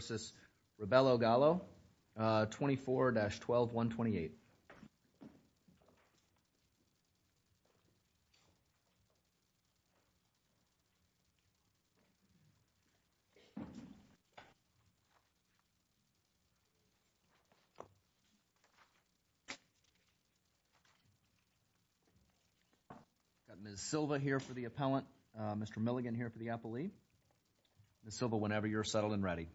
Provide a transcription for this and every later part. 24-12-128 Ms. Silva here for the appellant, Mr. Milligan here for the appellee. Ms. Silva, whenever you're settled and ready.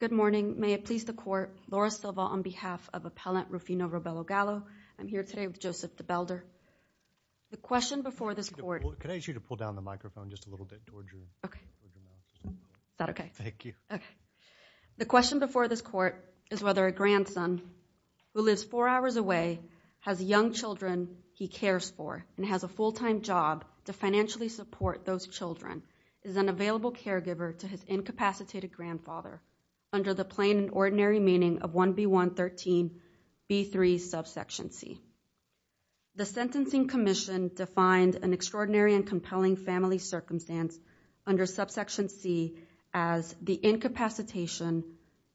Good morning. May it please the Court, Laura Silva on behalf of Appellant Rufino Robelo-Galo. I'm here today with Joseph DeBelder. The question before this Court is whether a grandson who lives four hours away has young children he cares for and has a full-time job to financially support those children is an available caregiver to his incapacitated grandfather under the plain and ordinary meaning of 1B113B3 subsection C. The Sentencing Commission defined an extraordinary and compelling family circumstance under subsection C as the incapacitation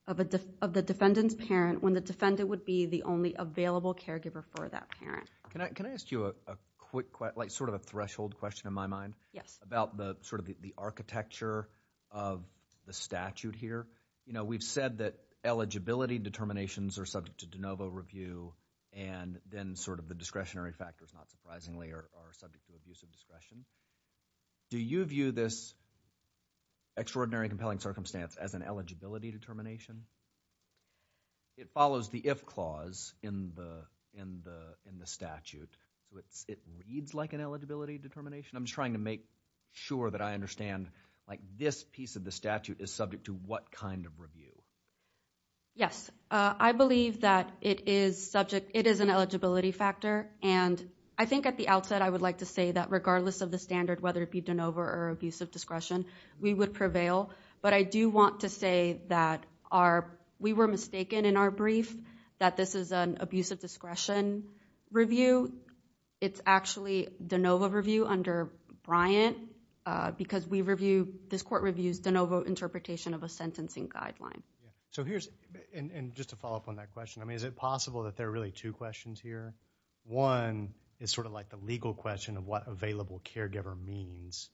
of the defendant's parent when the defendant would be the only available caregiver for that parent. Can I ask you a quick question, sort of a threshold question in my mind? Yes. About sort of the architecture of the statute here. We've said that eligibility determinations are subject to de novo review and then sort of the discretionary factors, not surprisingly, are subject to abusive discretion. Do you view this extraordinary and compelling circumstance as an eligibility determination? It follows the if clause in the statute. It reads like an eligibility determination. I'm just trying to make sure that I understand, like this piece of the statute is subject to what kind of review? Yes, I believe that it is subject, it is an eligibility factor and I think at the outset I would like to say that regardless of the standard, whether it be de novo or abusive discretion, we would prevail, but I do want to say that our, we were mistaken in our brief that this is an abusive discretion review. It's actually de novo review under Bryant because we review, this court reviews de novo interpretation of a sentencing guideline. So here's, and just to follow up on that question, I mean is it possible that there are really two questions here? One is sort of like the legal question of what available caregiver means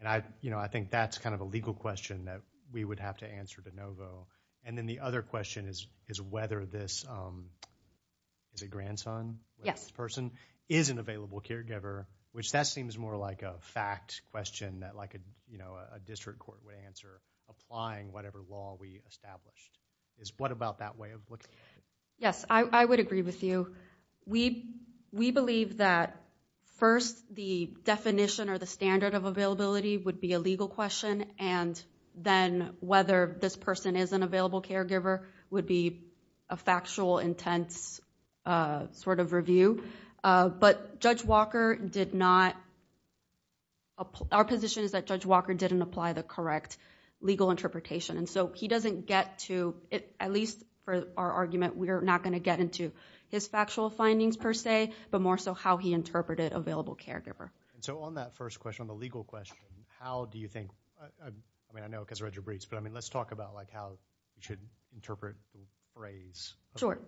and I, you know, I think that's kind of a legal question that we would have to answer de novo. And then the other question is whether this, is it grandson? Yes. This person is an available caregiver, which that seems more like a fact question that like a, you know, a district court would answer applying whatever law we established. Is, what about that way of looking at it? Yes, I would agree with you. We believe that first the definition or the standard of availability would be a legal question and then whether this person is an available caregiver would be a factual intense sort of review. But Judge Walker did not, our position is that Judge Walker didn't apply the correct legal interpretation. And so he doesn't get to, at least for our argument, we're not going to get into his factual findings per se, but more so how he interpreted available caregiver. And so on that first question, on the legal question, how do you think, I mean I know because I read your briefs, but I mean let's talk about like how you should interpret the phrase. Sure.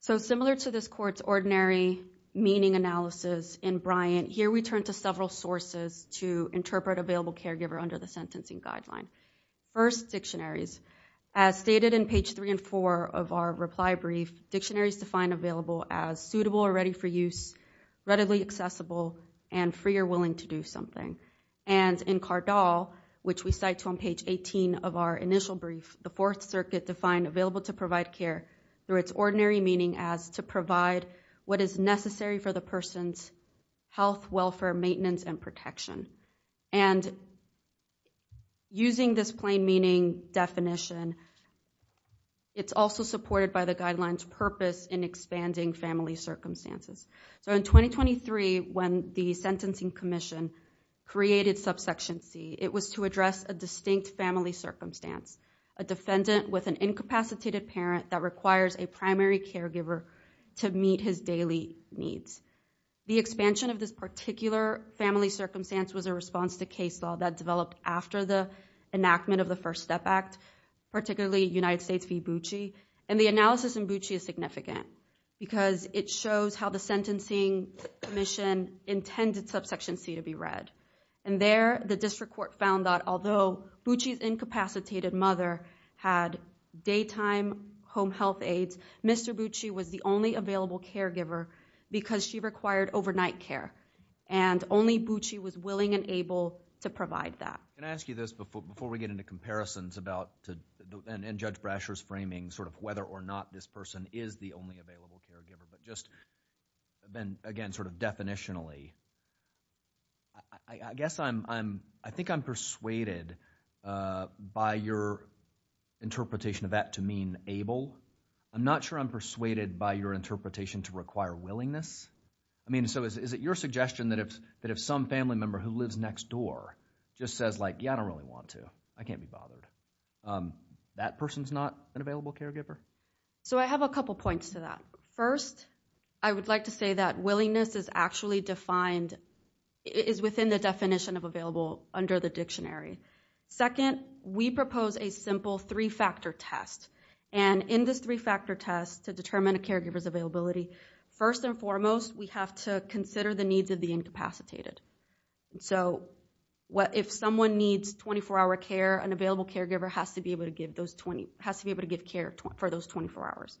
So similar to this court's ordinary meaning analysis in Bryant, here we turn to several sources to interpret available caregiver under the sentencing guideline. First, dictionaries. As stated in page three and four of our reply brief, dictionaries define available as suitable or ready for use, readily accessible, and free or willing to do something. And in Cardall, which we cite to on page 18 of our initial brief, the Fourth Circuit defined available to provide care through its ordinary meaning as to provide what is necessary for the person's health, welfare, maintenance, and protection. And using this plain meaning definition, it's also supported by the guideline's purpose in expanding family circumstances. So in 2023, when the Sentencing Commission created subsection C, it was to address a distinct family circumstance, a defendant with an incapacitated parent that requires a primary caregiver to meet his daily needs. The expansion of this particular family circumstance was a response to case law that developed after the enactment of the First Step Act, particularly United States v. Bucci. And the analysis in Bucci is significant because it shows how the Sentencing Commission intended subsection C to be read. And there, the district court found that although Bucci's incapacitated mother had daytime home health aides, Mr. Bucci was the only available caregiver because she required overnight care. And only Bucci was willing and able to provide that. Can I ask you this before we get into comparisons about, and Judge Brasher's framing, sort of whether or not this person is the only available caregiver, but just, again, sort of definitionally. I guess I'm, I think I'm persuaded by your interpretation of that to mean able. I'm not sure I'm persuaded by your interpretation to require willingness. I mean, so is it your suggestion that if some family member who lives next door just says like, yeah, I don't really want to, I can't be bothered, that person's not an available caregiver? So I have a couple points to that. First, I would like to say that willingness is actually defined, is within the definition of available under the dictionary. Second, we propose a simple three-factor test. And in this three-factor test to determine a caregiver's availability, first and foremost, we have to consider the needs of the incapacitated. So if someone needs 24-hour care, an available caregiver has to be able to give care for those 24 hours.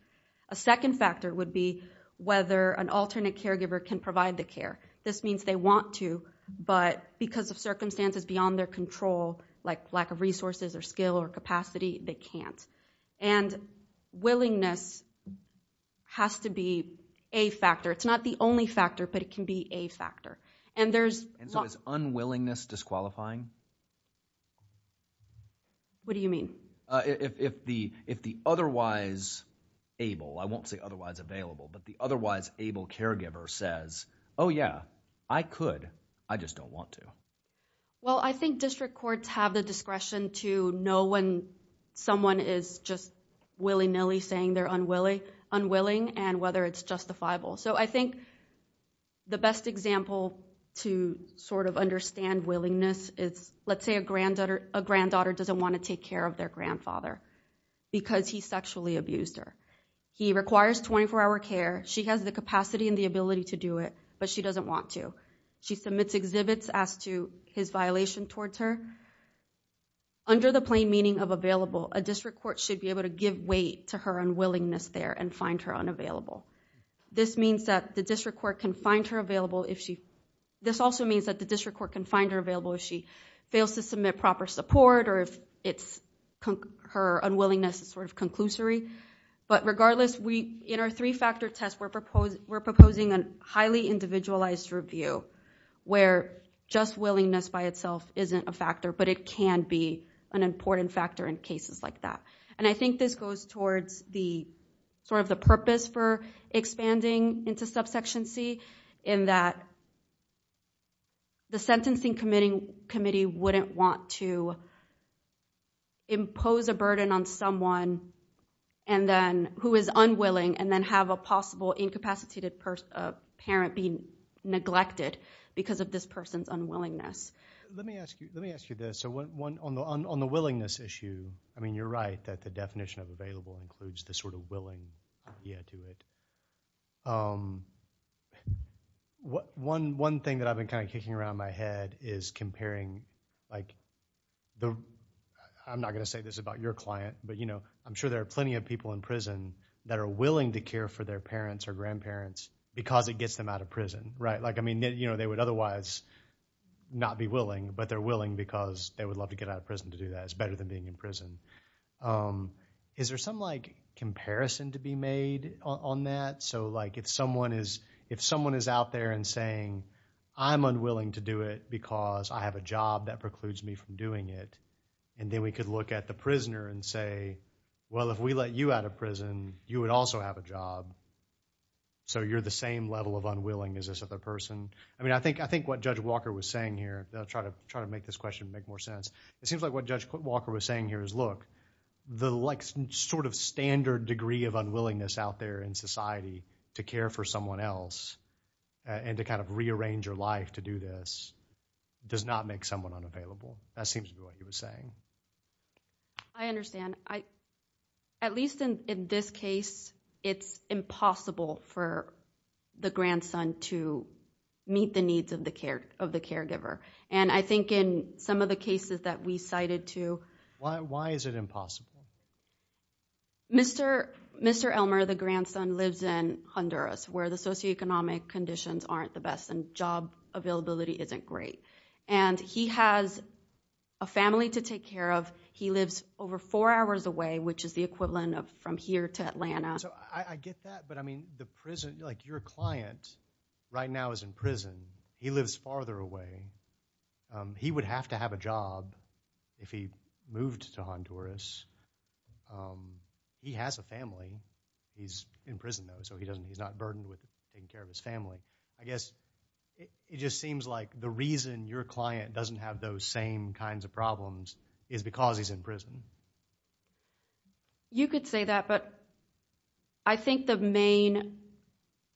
A second factor would be whether an alternate caregiver can provide the care. This means they want to, but because of circumstances beyond their control, like lack of resources or skill or capacity, they can't. And willingness has to be a factor. It's not the only factor, but it can be a factor. And there's- And so is unwillingness disqualifying? What do you mean? If the otherwise able, I won't say otherwise available, but the otherwise able caregiver says, oh yeah, I could, I just don't want to. Well, I think district courts have the discretion to know when someone is just willy-nilly saying they're unwilling and whether it's justifiable. So I think the best example to sort of understand willingness is, let's say a granddaughter doesn't want to take care of their grandfather because he sexually abused her. He requires 24-hour care. She has the capacity and the ability to do it, but she doesn't want to. She submits exhibits as to his violation towards her. Under the plain meaning of available, a district court should be able to give way to her unwillingness there and find her unavailable. This means that the district court can find her available if she- This also means that the district court can find her available if she fails to submit proper support or if it's- Her unwillingness is sort of conclusory. But regardless, in our three-factor test, we're proposing a highly individualized review where just willingness by itself isn't a factor, but it can be an important factor in cases like that. I think this goes towards the purpose for expanding into subsection C in that the sentencing committee wouldn't want to impose a burden on someone who is unwilling and then have a possible incapacitated parent be neglected because of this person's unwillingness. Let me ask you this. So on the willingness issue, I mean, you're right that the definition of available includes this sort of willing idea to it. One thing that I've been kind of kicking around my head is comparing- I'm not going to say this about your client, but I'm sure there are plenty of people in prison that are willing to care for their parents or grandparents because it gets them out of prison, right? They would otherwise not be willing, but they're willing because they would love to get out of prison to do that. It's better than being in prison. Is there some comparison to be made on that? So if someone is out there and saying, I'm unwilling to do it because I have a job that precludes me from doing it, and then we could look at the prisoner and say, well, if we let you out of prison, you would also have a job. So you're the same level of unwilling as this other person. I mean, I think what Judge Walker was saying here- I'll try to make this question make more sense. It seems like what Judge Walker was saying here is, look, the sort of standard degree of unwillingness out there in society to care for someone else and to kind of rearrange your life to do this does not make someone unavailable. That seems to be what he was saying. I understand. I at least in this case, it's impossible for the grandson to meet the needs of the caregiver. And I think in some of the cases that we cited to- Why is it impossible? Mr. Elmer, the grandson, lives in Honduras where the socioeconomic conditions aren't the best and job availability isn't great. And he has a family to take care of. He lives over four hours away, which is the equivalent of from here to Atlanta. So I get that. But I mean, the prison- like, your client right now is in prison. He lives farther away. He would have to have a job if he moved to Honduras. He has a family. He's in prison, though, so he's not burdened with taking care of his family. I guess it just seems like the reason your client doesn't have those same kinds of problems is because he's in prison. You could say that, but I think the main-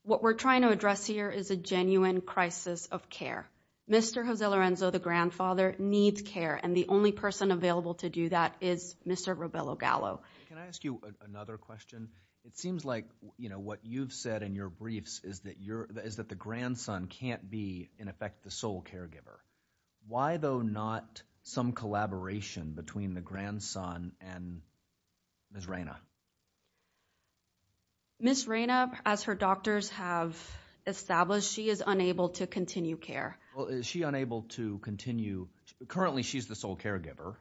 What we're trying to address here is a genuine crisis of care. Mr. Jose Lorenzo, the grandfather, needs care. And the only person available to do that is Mr. Robelo Gallo. Can I ask you another question? It seems like what you've said in your briefs is that the grandson can't be, in effect, the sole caregiver. Why, though, not some collaboration between the grandson and Ms. Reyna? Ms. Reyna, as her doctors have established, she is unable to continue care. Well, is she unable to continue- Currently, she's the sole caregiver.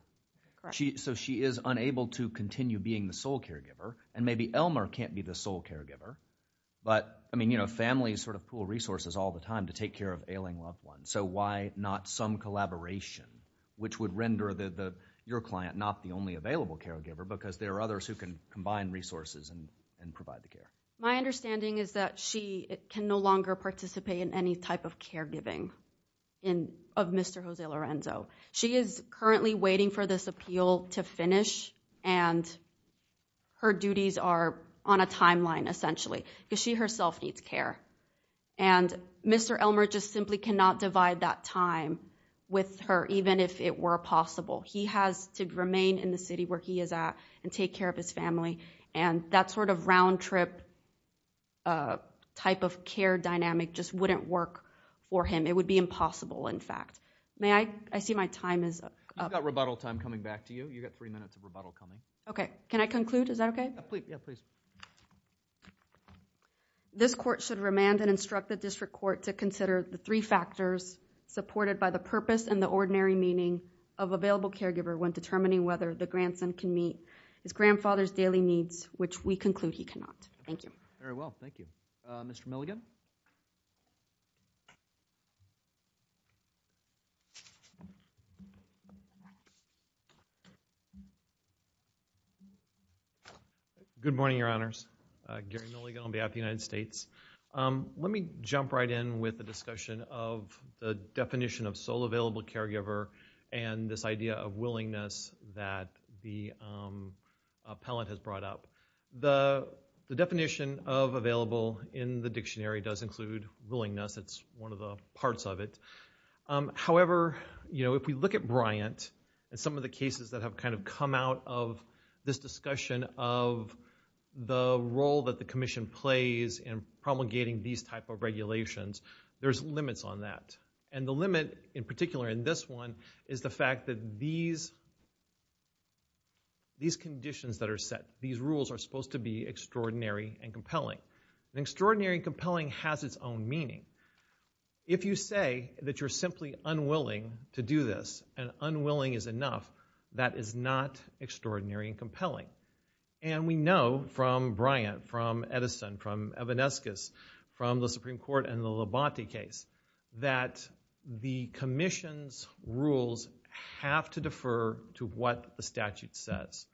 Correct. So she is unable to continue being the sole caregiver. And maybe Elmer can't be the sole caregiver. But families pool resources all the time to take care of ailing loved ones. So why not some collaboration, which would render your client not the only available caregiver? Because there are others who can combine resources and provide the care. My understanding is that she can no longer participate in any type of caregiving of Mr. Jose Lorenzo. She is currently waiting for this appeal to finish. And her duties are on a timeline, essentially, because she herself needs care. And Mr. Elmer just simply cannot divide that time with her, even if it were possible. He has to remain in the city where he is at and take care of his family. And that sort of round-trip type of care dynamic just wouldn't work for him. It would be impossible, in fact. May I? I see my time is up. You've got rebuttal time coming back to you. You've got three minutes of rebuttal coming. Okay. Can I conclude? Is that okay? Yeah, please. This court should remand and instruct the district court to consider the three factors supported by the purpose and the ordinary meaning of available caregiver when determining whether the grandson can meet his grandfather's daily needs, which we conclude he cannot. Thank you. Very well. Thank you. Mr. Milligan? Good morning, Your Honors. Gary Milligan on behalf of the United States. Let me jump right in with the discussion of the definition of sole available caregiver and this idea of willingness that the appellant has brought up. The definition of available in the dictionary does include willingness. It's one of the parts of it. However, if we look at Bryant and some of the cases that have come out of this discussion of the role that the commission plays in promulgating these type of regulations, there's limits on that. And the limit in particular in this one is the fact that these conditions that are set, these rules are supposed to be extraordinary and compelling. And extraordinary and compelling has its own meaning. If you say that you're simply unwilling to do this and unwilling is enough, that is not extraordinary and compelling. And we know from Bryant, from Edison, from Evanescus, from the Supreme Court and the Labonte case that the commission's rules have to defer to what the statute says.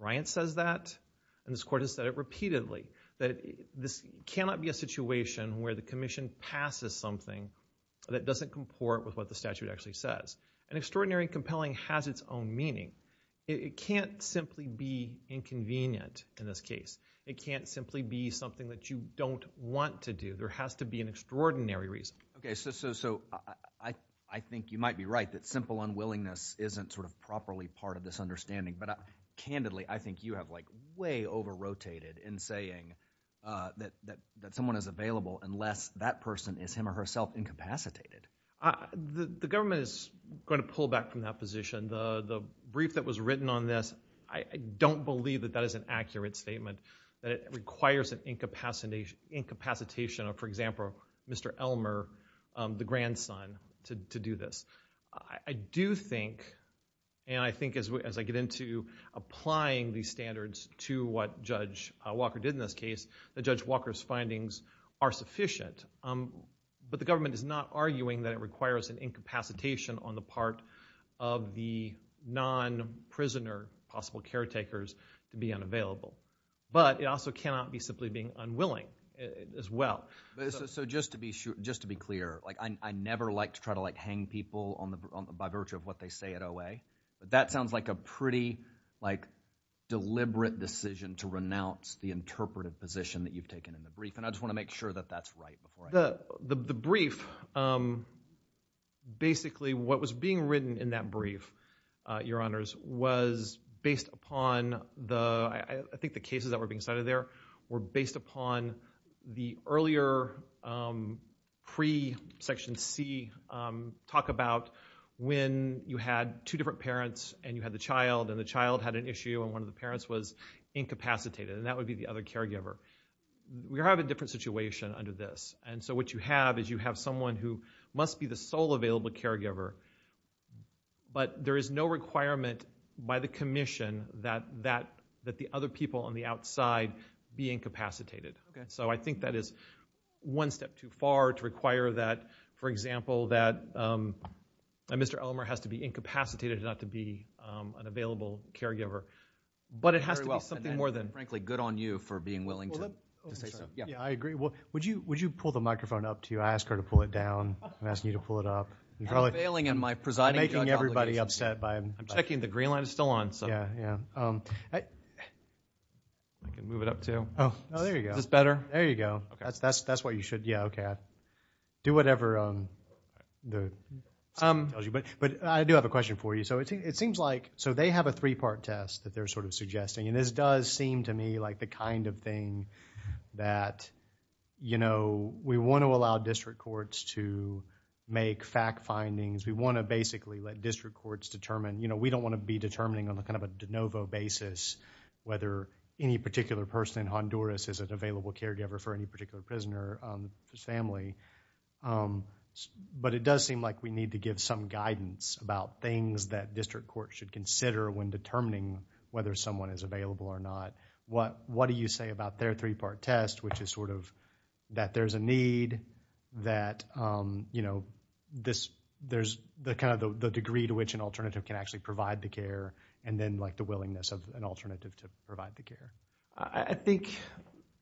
Bryant says that and this court has said it repeatedly that this cannot be a situation where the commission passes something that doesn't comport with what the statute actually says. And extraordinary and compelling has its own meaning. It can't simply be inconvenient in this case. It can't simply be something that you don't want to do. There has to be an extraordinary reason. Okay, so I think you might be right that simple unwillingness isn't sort of properly part of this understanding. Candidly, I think you have way over-rotated in saying that someone is available unless that person is him or herself incapacitated. The government is going to pull back from that position. The brief that was written on this, I don't believe that that is an accurate statement. That it requires an incapacitation of, for example, Mr. Elmer, the grandson, to do this. I do think, and I think as I get into applying these standards to what Judge Walker did in this case, that Judge Walker's findings are sufficient. But the government is not arguing that it requires an incapacitation on the part of the non-prisoner, possible caretakers, to be unavailable. But it also cannot be simply being unwilling as well. So just to be clear, I never like to try to hang people by virtue of what they say at But that sounds like a pretty deliberate decision to renounce the interpretive position that you've taken in the brief. And I just want to make sure that that's right. The brief, basically what was being written in that brief, Your Honors, was based upon the, I think the cases that were being cited there, were based upon the earlier pre-Section C talk about when you had two different parents and you had the child and the child had an issue and one of the parents was incapacitated. And that would be the other caregiver. We have a different situation under this. And so what you have is you have someone who must be the sole available caregiver. But there is no requirement by the commission that the other people on the outside be incapacitated. Okay. So I think that is one step too far to require that, for example, that Mr. Elmer has to be incapacitated not to be an available caregiver. But it has to be something more than- And frankly, good on you for being willing to say so. Well, let me say something. Yeah. Yeah, I agree. Well, would you pull the microphone up to you? I asked her to pull it down. I'm asking you to pull it up. I'm failing in my presiding- I'm making everybody upset by- I'm checking the green light is still on. So- I can move it up too. Oh, there you go. Is this better? There you go. That's what you should- Yeah, okay. Do whatever someone tells you. But I do have a question for you. So it seems like- So they have a three-part test that they're sort of suggesting. And this does seem to me like the kind of thing that, you know, we want to allow district courts to make fact findings. We want to basically let district courts determine, you know, we don't want to be determining on a kind of a de novo basis whether any particular person in Honduras is an available caregiver for any particular prisoner's family. But it does seem like we need to give some guidance about things that district courts should consider when determining whether someone is available or not. What do you say about their three-part test, which is sort of that there's a need, that, you know, there's kind of the degree to which an alternative can actually provide the care, and then like the willingness of an alternative to provide the care? I think,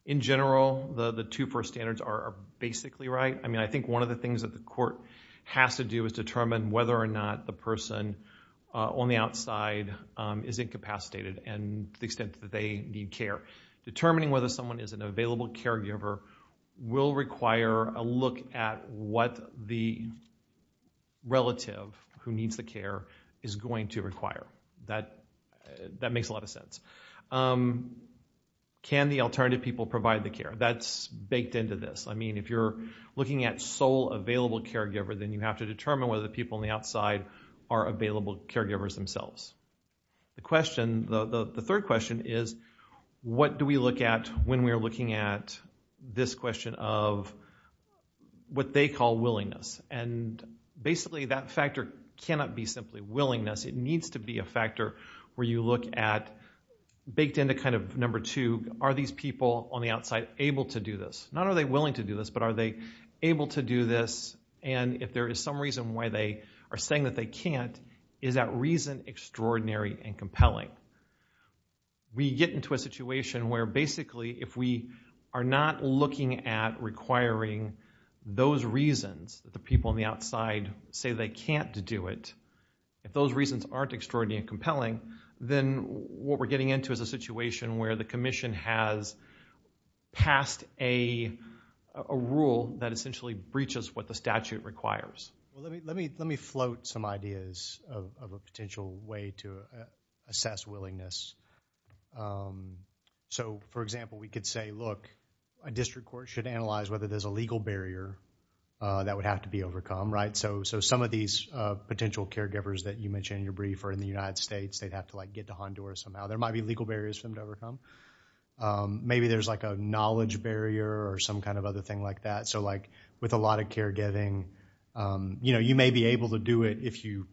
in general, the two first standards are basically right. I mean, I think one of the things that the court has to do is determine whether or not the person on the outside is incapacitated and the extent that they need care. Determining whether someone is an available caregiver will require a look at what the relative who needs the care is going to require. That makes a lot of sense. Can the alternative people provide the care? That's baked into this. I mean, if you're looking at sole available caregiver, then you have to determine whether the people on the outside are available caregivers themselves. The question, the third question is, what do we look at when we are looking at this question of what they call willingness? And basically, that factor cannot be simply willingness. It needs to be a factor where you look at, baked into kind of number two, are these people on the outside able to do this? Not are they willing to do this, but are they able to do this, and if there is some reason why they are saying that they can't, is that reason extraordinary and compelling? We get into a situation where basically if we are not looking at requiring those reasons that the people on the outside say they can't do it, if those reasons aren't extraordinary and compelling, then what we're getting into is a situation where the commission has passed a rule that essentially breaches what the statute requires. Well, let me float some ideas of a potential way to assess willingness. So, for example, we could say, look, a district court should analyze whether there's a legal barrier that would have to be overcome, right? So some of these potential caregivers that you mentioned in your brief are in the United States. They'd have to get to Honduras somehow. There might be legal barriers for them to overcome. Maybe there's like a knowledge barrier or some kind of other thing like that. With a lot of caregiving, you may be able to do it if you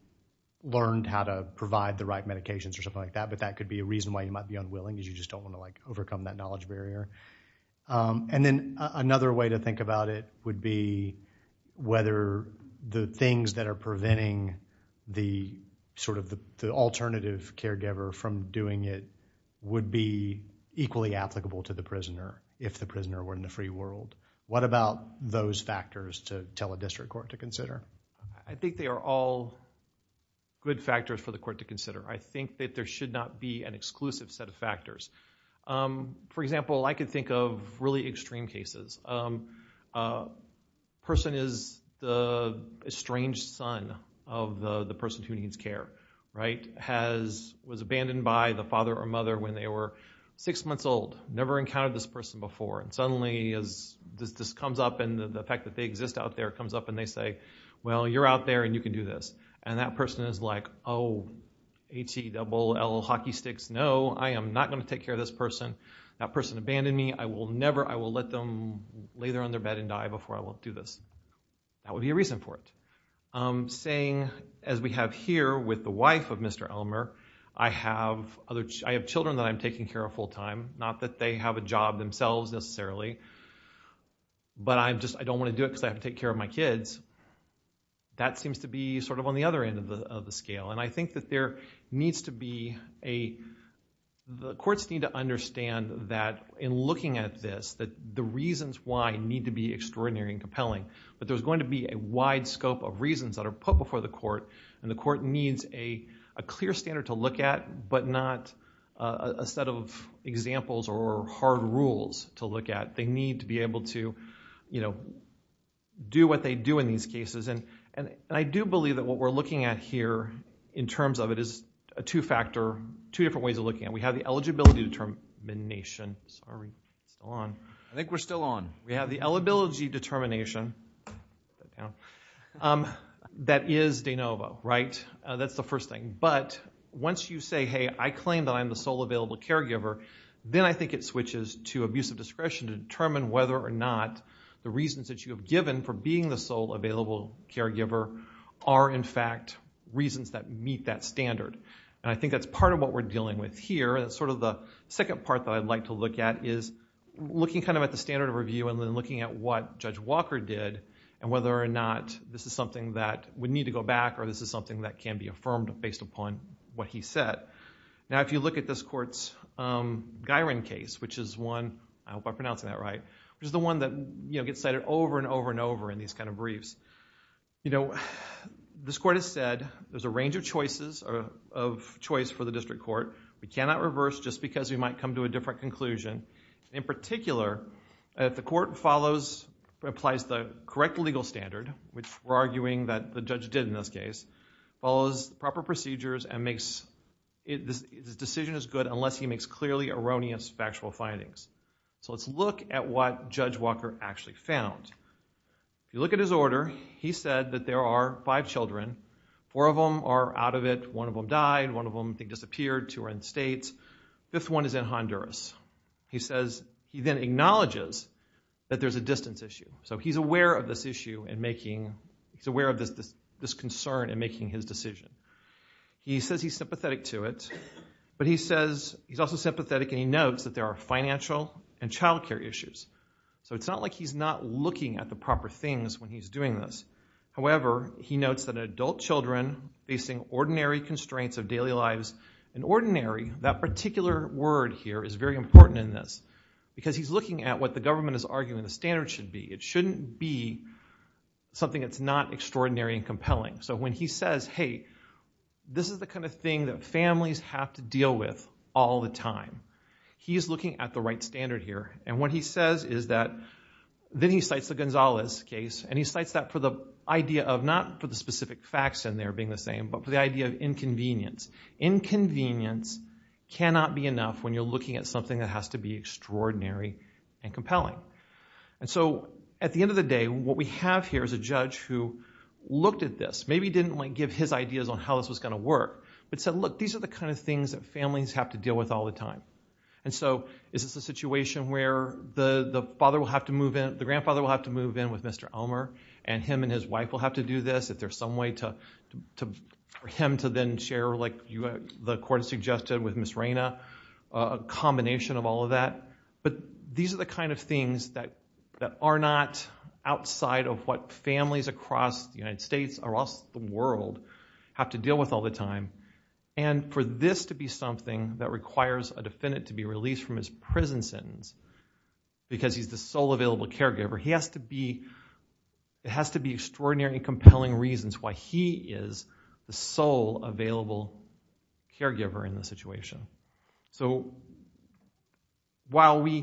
learned how to provide the right medications or something like that, but that could be a reason why you might be unwilling because you just don't want to overcome that knowledge barrier. And then another way to think about it would be whether the things that are preventing the alternative caregiver from doing it would be equally applicable to the prisoner if the prisoner were in the free world. What about those factors to tell a district court to consider? I think they are all good factors for the court to consider. I think that there should not be an exclusive set of factors. For example, I could think of really extreme cases. A person is the estranged son of the person who needs care, right, was abandoned by the father or mother when they were six months old, never encountered this person before, and suddenly this comes up and the fact that they exist out there comes up and they say, well, you're out there and you can do this. And that person is like, oh, H-E-double-L hockey sticks, no, I am not going to take care of this person. That person abandoned me. I will never, I will let them lay there on their bed and die before I will do this. That would be a reason for it. Saying, as we have here with the wife of Mr. Elmer, I have children that I'm taking care of full time, not that they have a job themselves necessarily, but I'm just, I don't want to do it because I have to take care of my kids. That seems to be sort of on the other end of the scale. And I think that there needs to be a, the courts need to understand that in looking at this, that the reasons why need to be extraordinary and compelling. But there's going to be a wide scope of reasons that are put before the court and the court needs a clear standard to look at, but not a set of examples or hard rules to look at. They need to be able to, you know, do what they do in these cases. And I do believe that what we're looking at here in terms of it is a two-factor, two different ways of looking at it. We have the eligibility determination, sorry, it's still on. I think we're still on. We have the eligibility determination that is de novo, right? That's the first thing. But once you say, hey, I claim that I'm the sole available caregiver, then I think it switches to abusive discretion to determine whether or not the reasons that you have given for being the sole available caregiver are, in fact, reasons that meet that standard. And I think that's part of what we're dealing with here. And it's sort of the second part that I'd like to look at is looking kind of at the standard of review and then looking at what Judge Walker did and whether or not this is something that would need to go back or this is something that can be affirmed based upon what he said. Now, if you look at this court's Guirin case, which is one, I hope I'm pronouncing that right, which is the one that, you know, gets cited over and over and over in these kind of briefs, you know, this court has said there's a range of choices or of choice for the district court. We cannot reverse just because we might come to a different conclusion. In particular, if the court follows, applies the correct legal standard, which we're arguing that the judge did in this case, follows proper procedures and makes, the decision is good unless he makes clearly erroneous factual findings. So let's look at what Judge Walker actually found. If you look at his order, he said that there are five children. Four of them are out of it. One of them died. One of them, I think, disappeared. Two are in the States. Fifth one is in Honduras. He then acknowledges that there's a distance issue. So he's aware of this issue in making, he's aware of this concern in making his decision. He says he's sympathetic to it, but he says he's also sympathetic and he notes that there are financial and child care issues. So it's not like he's not looking at the proper things when he's doing this. However, he notes that adult children facing ordinary constraints of daily lives, and ordinary, that particular word here is very important in this, because he's looking at what the government is arguing the standard should be. It shouldn't be something that's not extraordinary and compelling. So when he says, hey, this is the kind of thing that families have to deal with all the time, he's looking at the right standard here. And what he says is that, then he cites the Gonzalez case, and he cites that for the idea of not for the specific facts in there being the same, but for the idea of inconvenience. Inconvenience cannot be enough when you're looking at something that has to be extraordinary and compelling. And so at the end of the day, what we have here is a judge who looked at this, maybe didn't give his ideas on how this was going to work, but said, look, these are the kind of things that families have to deal with all the time. And so is this a situation where the father will have to move in, the grandfather will have to move in with Mr. Elmer, and him and his wife will have to do this, if there's some way for him to then share, like the court suggested with Ms. Reyna, a combination of all of that. But these are the kind of things that are not outside of what families across the United States, across the world, have to deal with all the time. And for this to be something that requires a defendant to be released from his prison sentence because he's the sole available caregiver, it has to be extraordinary and compelling reasons why he is the sole available caregiver in this situation. So while we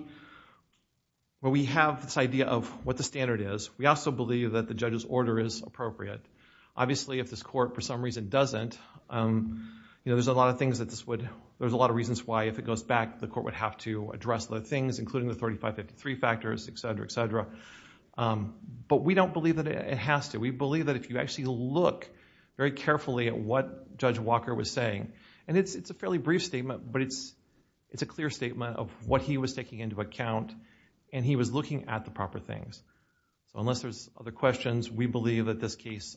have this idea of what the standard is, we also believe that the judge's order is appropriate. Obviously, if this court, for some reason, doesn't, there's a lot of reasons why, if it goes back, the court would have to address the things, including the 3553 factors, etc., etc. But we don't believe that it has to. We believe that if you actually look very carefully at what Judge Walker was saying, and it's a fairly brief statement, but it's a clear statement of what he was taking into account and he was looking at the proper things. So unless there's other questions, we believe that this case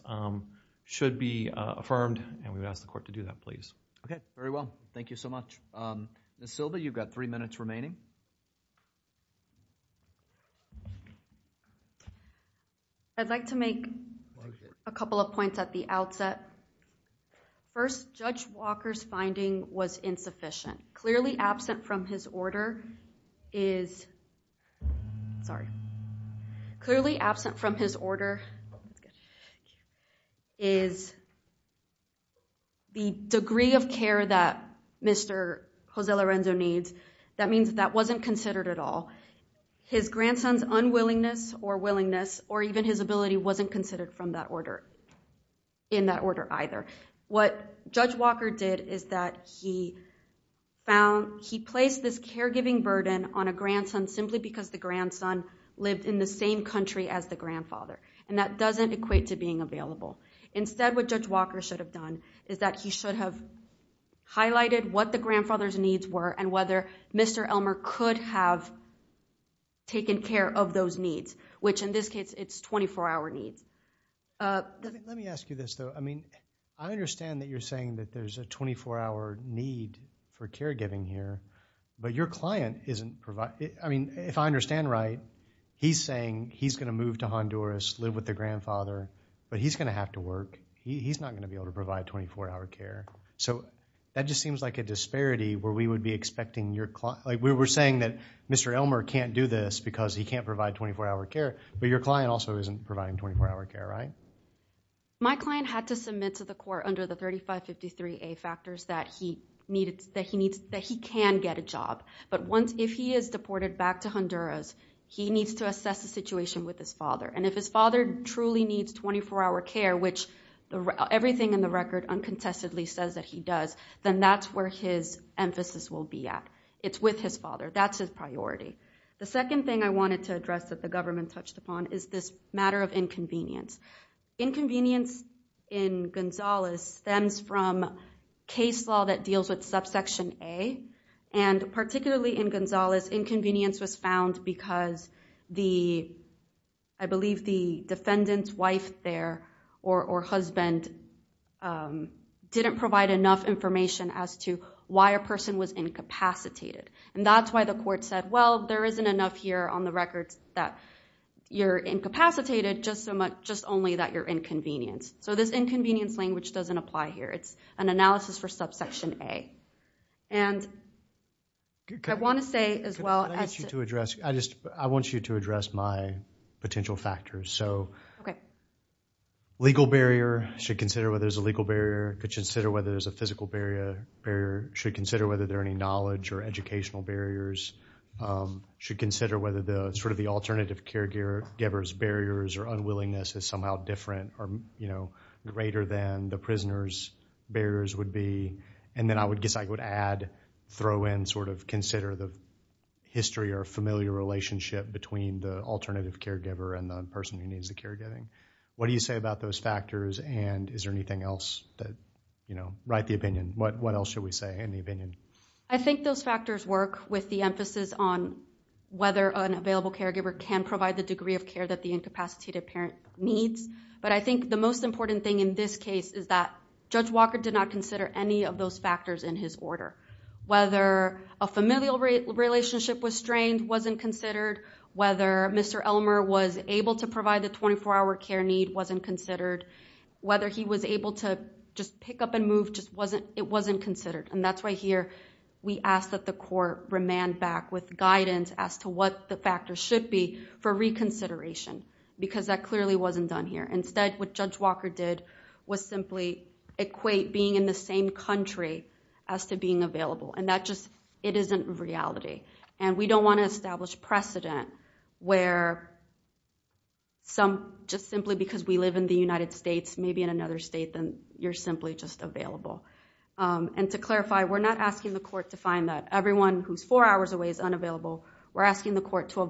should be affirmed and we would ask the court to do that, please. Okay. Very well. Thank you so much. Ms. Silva, you've got three minutes remaining. I'd like to make a couple of points at the outset. First, Judge Walker's finding was insufficient. Clearly absent from his order is, sorry, clearly absent from his order is the degree of care that Mr. Jose Lorenzo needs. That means that wasn't considered at all. His grandson's unwillingness or willingness or even his ability wasn't considered from that order, in that order either. What Judge Walker did is that he found, he placed this caregiving burden on a grandson simply because the grandson lived in the same country as the grandfather, and that doesn't equate to being available. Instead, what Judge Walker should have done is that he should have highlighted what the Mr. Elmer could have taken care of those needs, which in this case, it's 24-hour needs. Let me ask you this, though. I mean, I understand that you're saying that there's a 24-hour need for caregiving here, but your client isn't providing. I mean, if I understand right, he's saying he's going to move to Honduras, live with the grandfather, but he's going to have to work. He's not going to be able to provide 24-hour care. That just seems like a disparity where we would be expecting your client. We were saying that Mr. Elmer can't do this because he can't provide 24-hour care, but your client also isn't providing 24-hour care, right? My client had to submit to the court under the 3553A factors that he can get a job, but if he is deported back to Honduras, he needs to assess the situation with his father, and if his father truly needs 24-hour care, which everything in the record uncontestedly says that he does, then that's where his emphasis will be at. It's with his father. That's his priority. The second thing I wanted to address that the government touched upon is this matter of inconvenience. Inconvenience in Gonzalez stems from case law that deals with subsection A, and particularly in Gonzalez, inconvenience was found because I believe the defendant's wife there, or husband, didn't provide enough information as to why a person was incapacitated. That's why the court said, well, there isn't enough here on the record that you're incapacitated, just only that you're inconvenienced. This inconvenience language doesn't apply here. It's an analysis for subsection A. And I want to say as well— Can I ask you to address—I want you to address my potential factors. So legal barrier, should consider whether there's a legal barrier, should consider whether there's a physical barrier, should consider whether there are any knowledge or educational barriers, should consider whether the alternative caregiver's barriers or unwillingness is somehow different or greater than the prisoner's barriers would be, and then I guess I would add, throw in, sort of consider the history or familiar relationship between the alternative caregiver and the person who needs the caregiving. What do you say about those factors, and is there anything else that, you know, write the opinion? What else should we say in the opinion? I think those factors work with the emphasis on whether an available caregiver can provide the degree of care that the incapacitated parent needs. But I think the most important thing in this case is that Judge Walker did not consider any of those factors in his order. Whether a familial relationship was strained, wasn't considered. Whether Mr. Elmer was able to provide the 24-hour care need, wasn't considered. Whether he was able to just pick up and move, just wasn't—it wasn't considered. And that's why here we ask that the court remand back with guidance as to what the factors should be for reconsideration, because that clearly wasn't done here. Instead, what Judge Walker did was simply equate being in the same country as to being available, and that just—it isn't reality. And we don't want to establish precedent where some—just simply because we live in the United States, maybe in another state, then you're simply just available. And to clarify, we're not asking the court to find that everyone who's four hours away is unavailable. We're asking the court to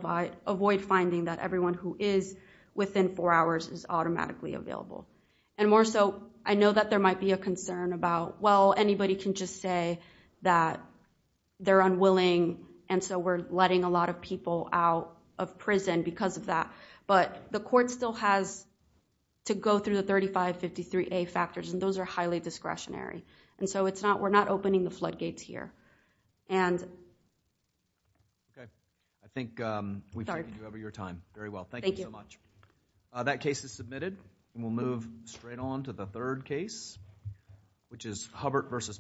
avoid finding that everyone who is within four hours is automatically available. And more so, I know that there might be a concern about, well, anybody can just say that they're unwilling, and so we're letting a lot of people out of prison because of that. But the court still has to go through the 3553A factors, and those are highly discretionary. And so it's not—we're not opening the floodgates here. And— Okay. I think we've taken over your time very well. Thank you so much. That case is submitted, and we'll move straight on to the third case, which is Hubbert v.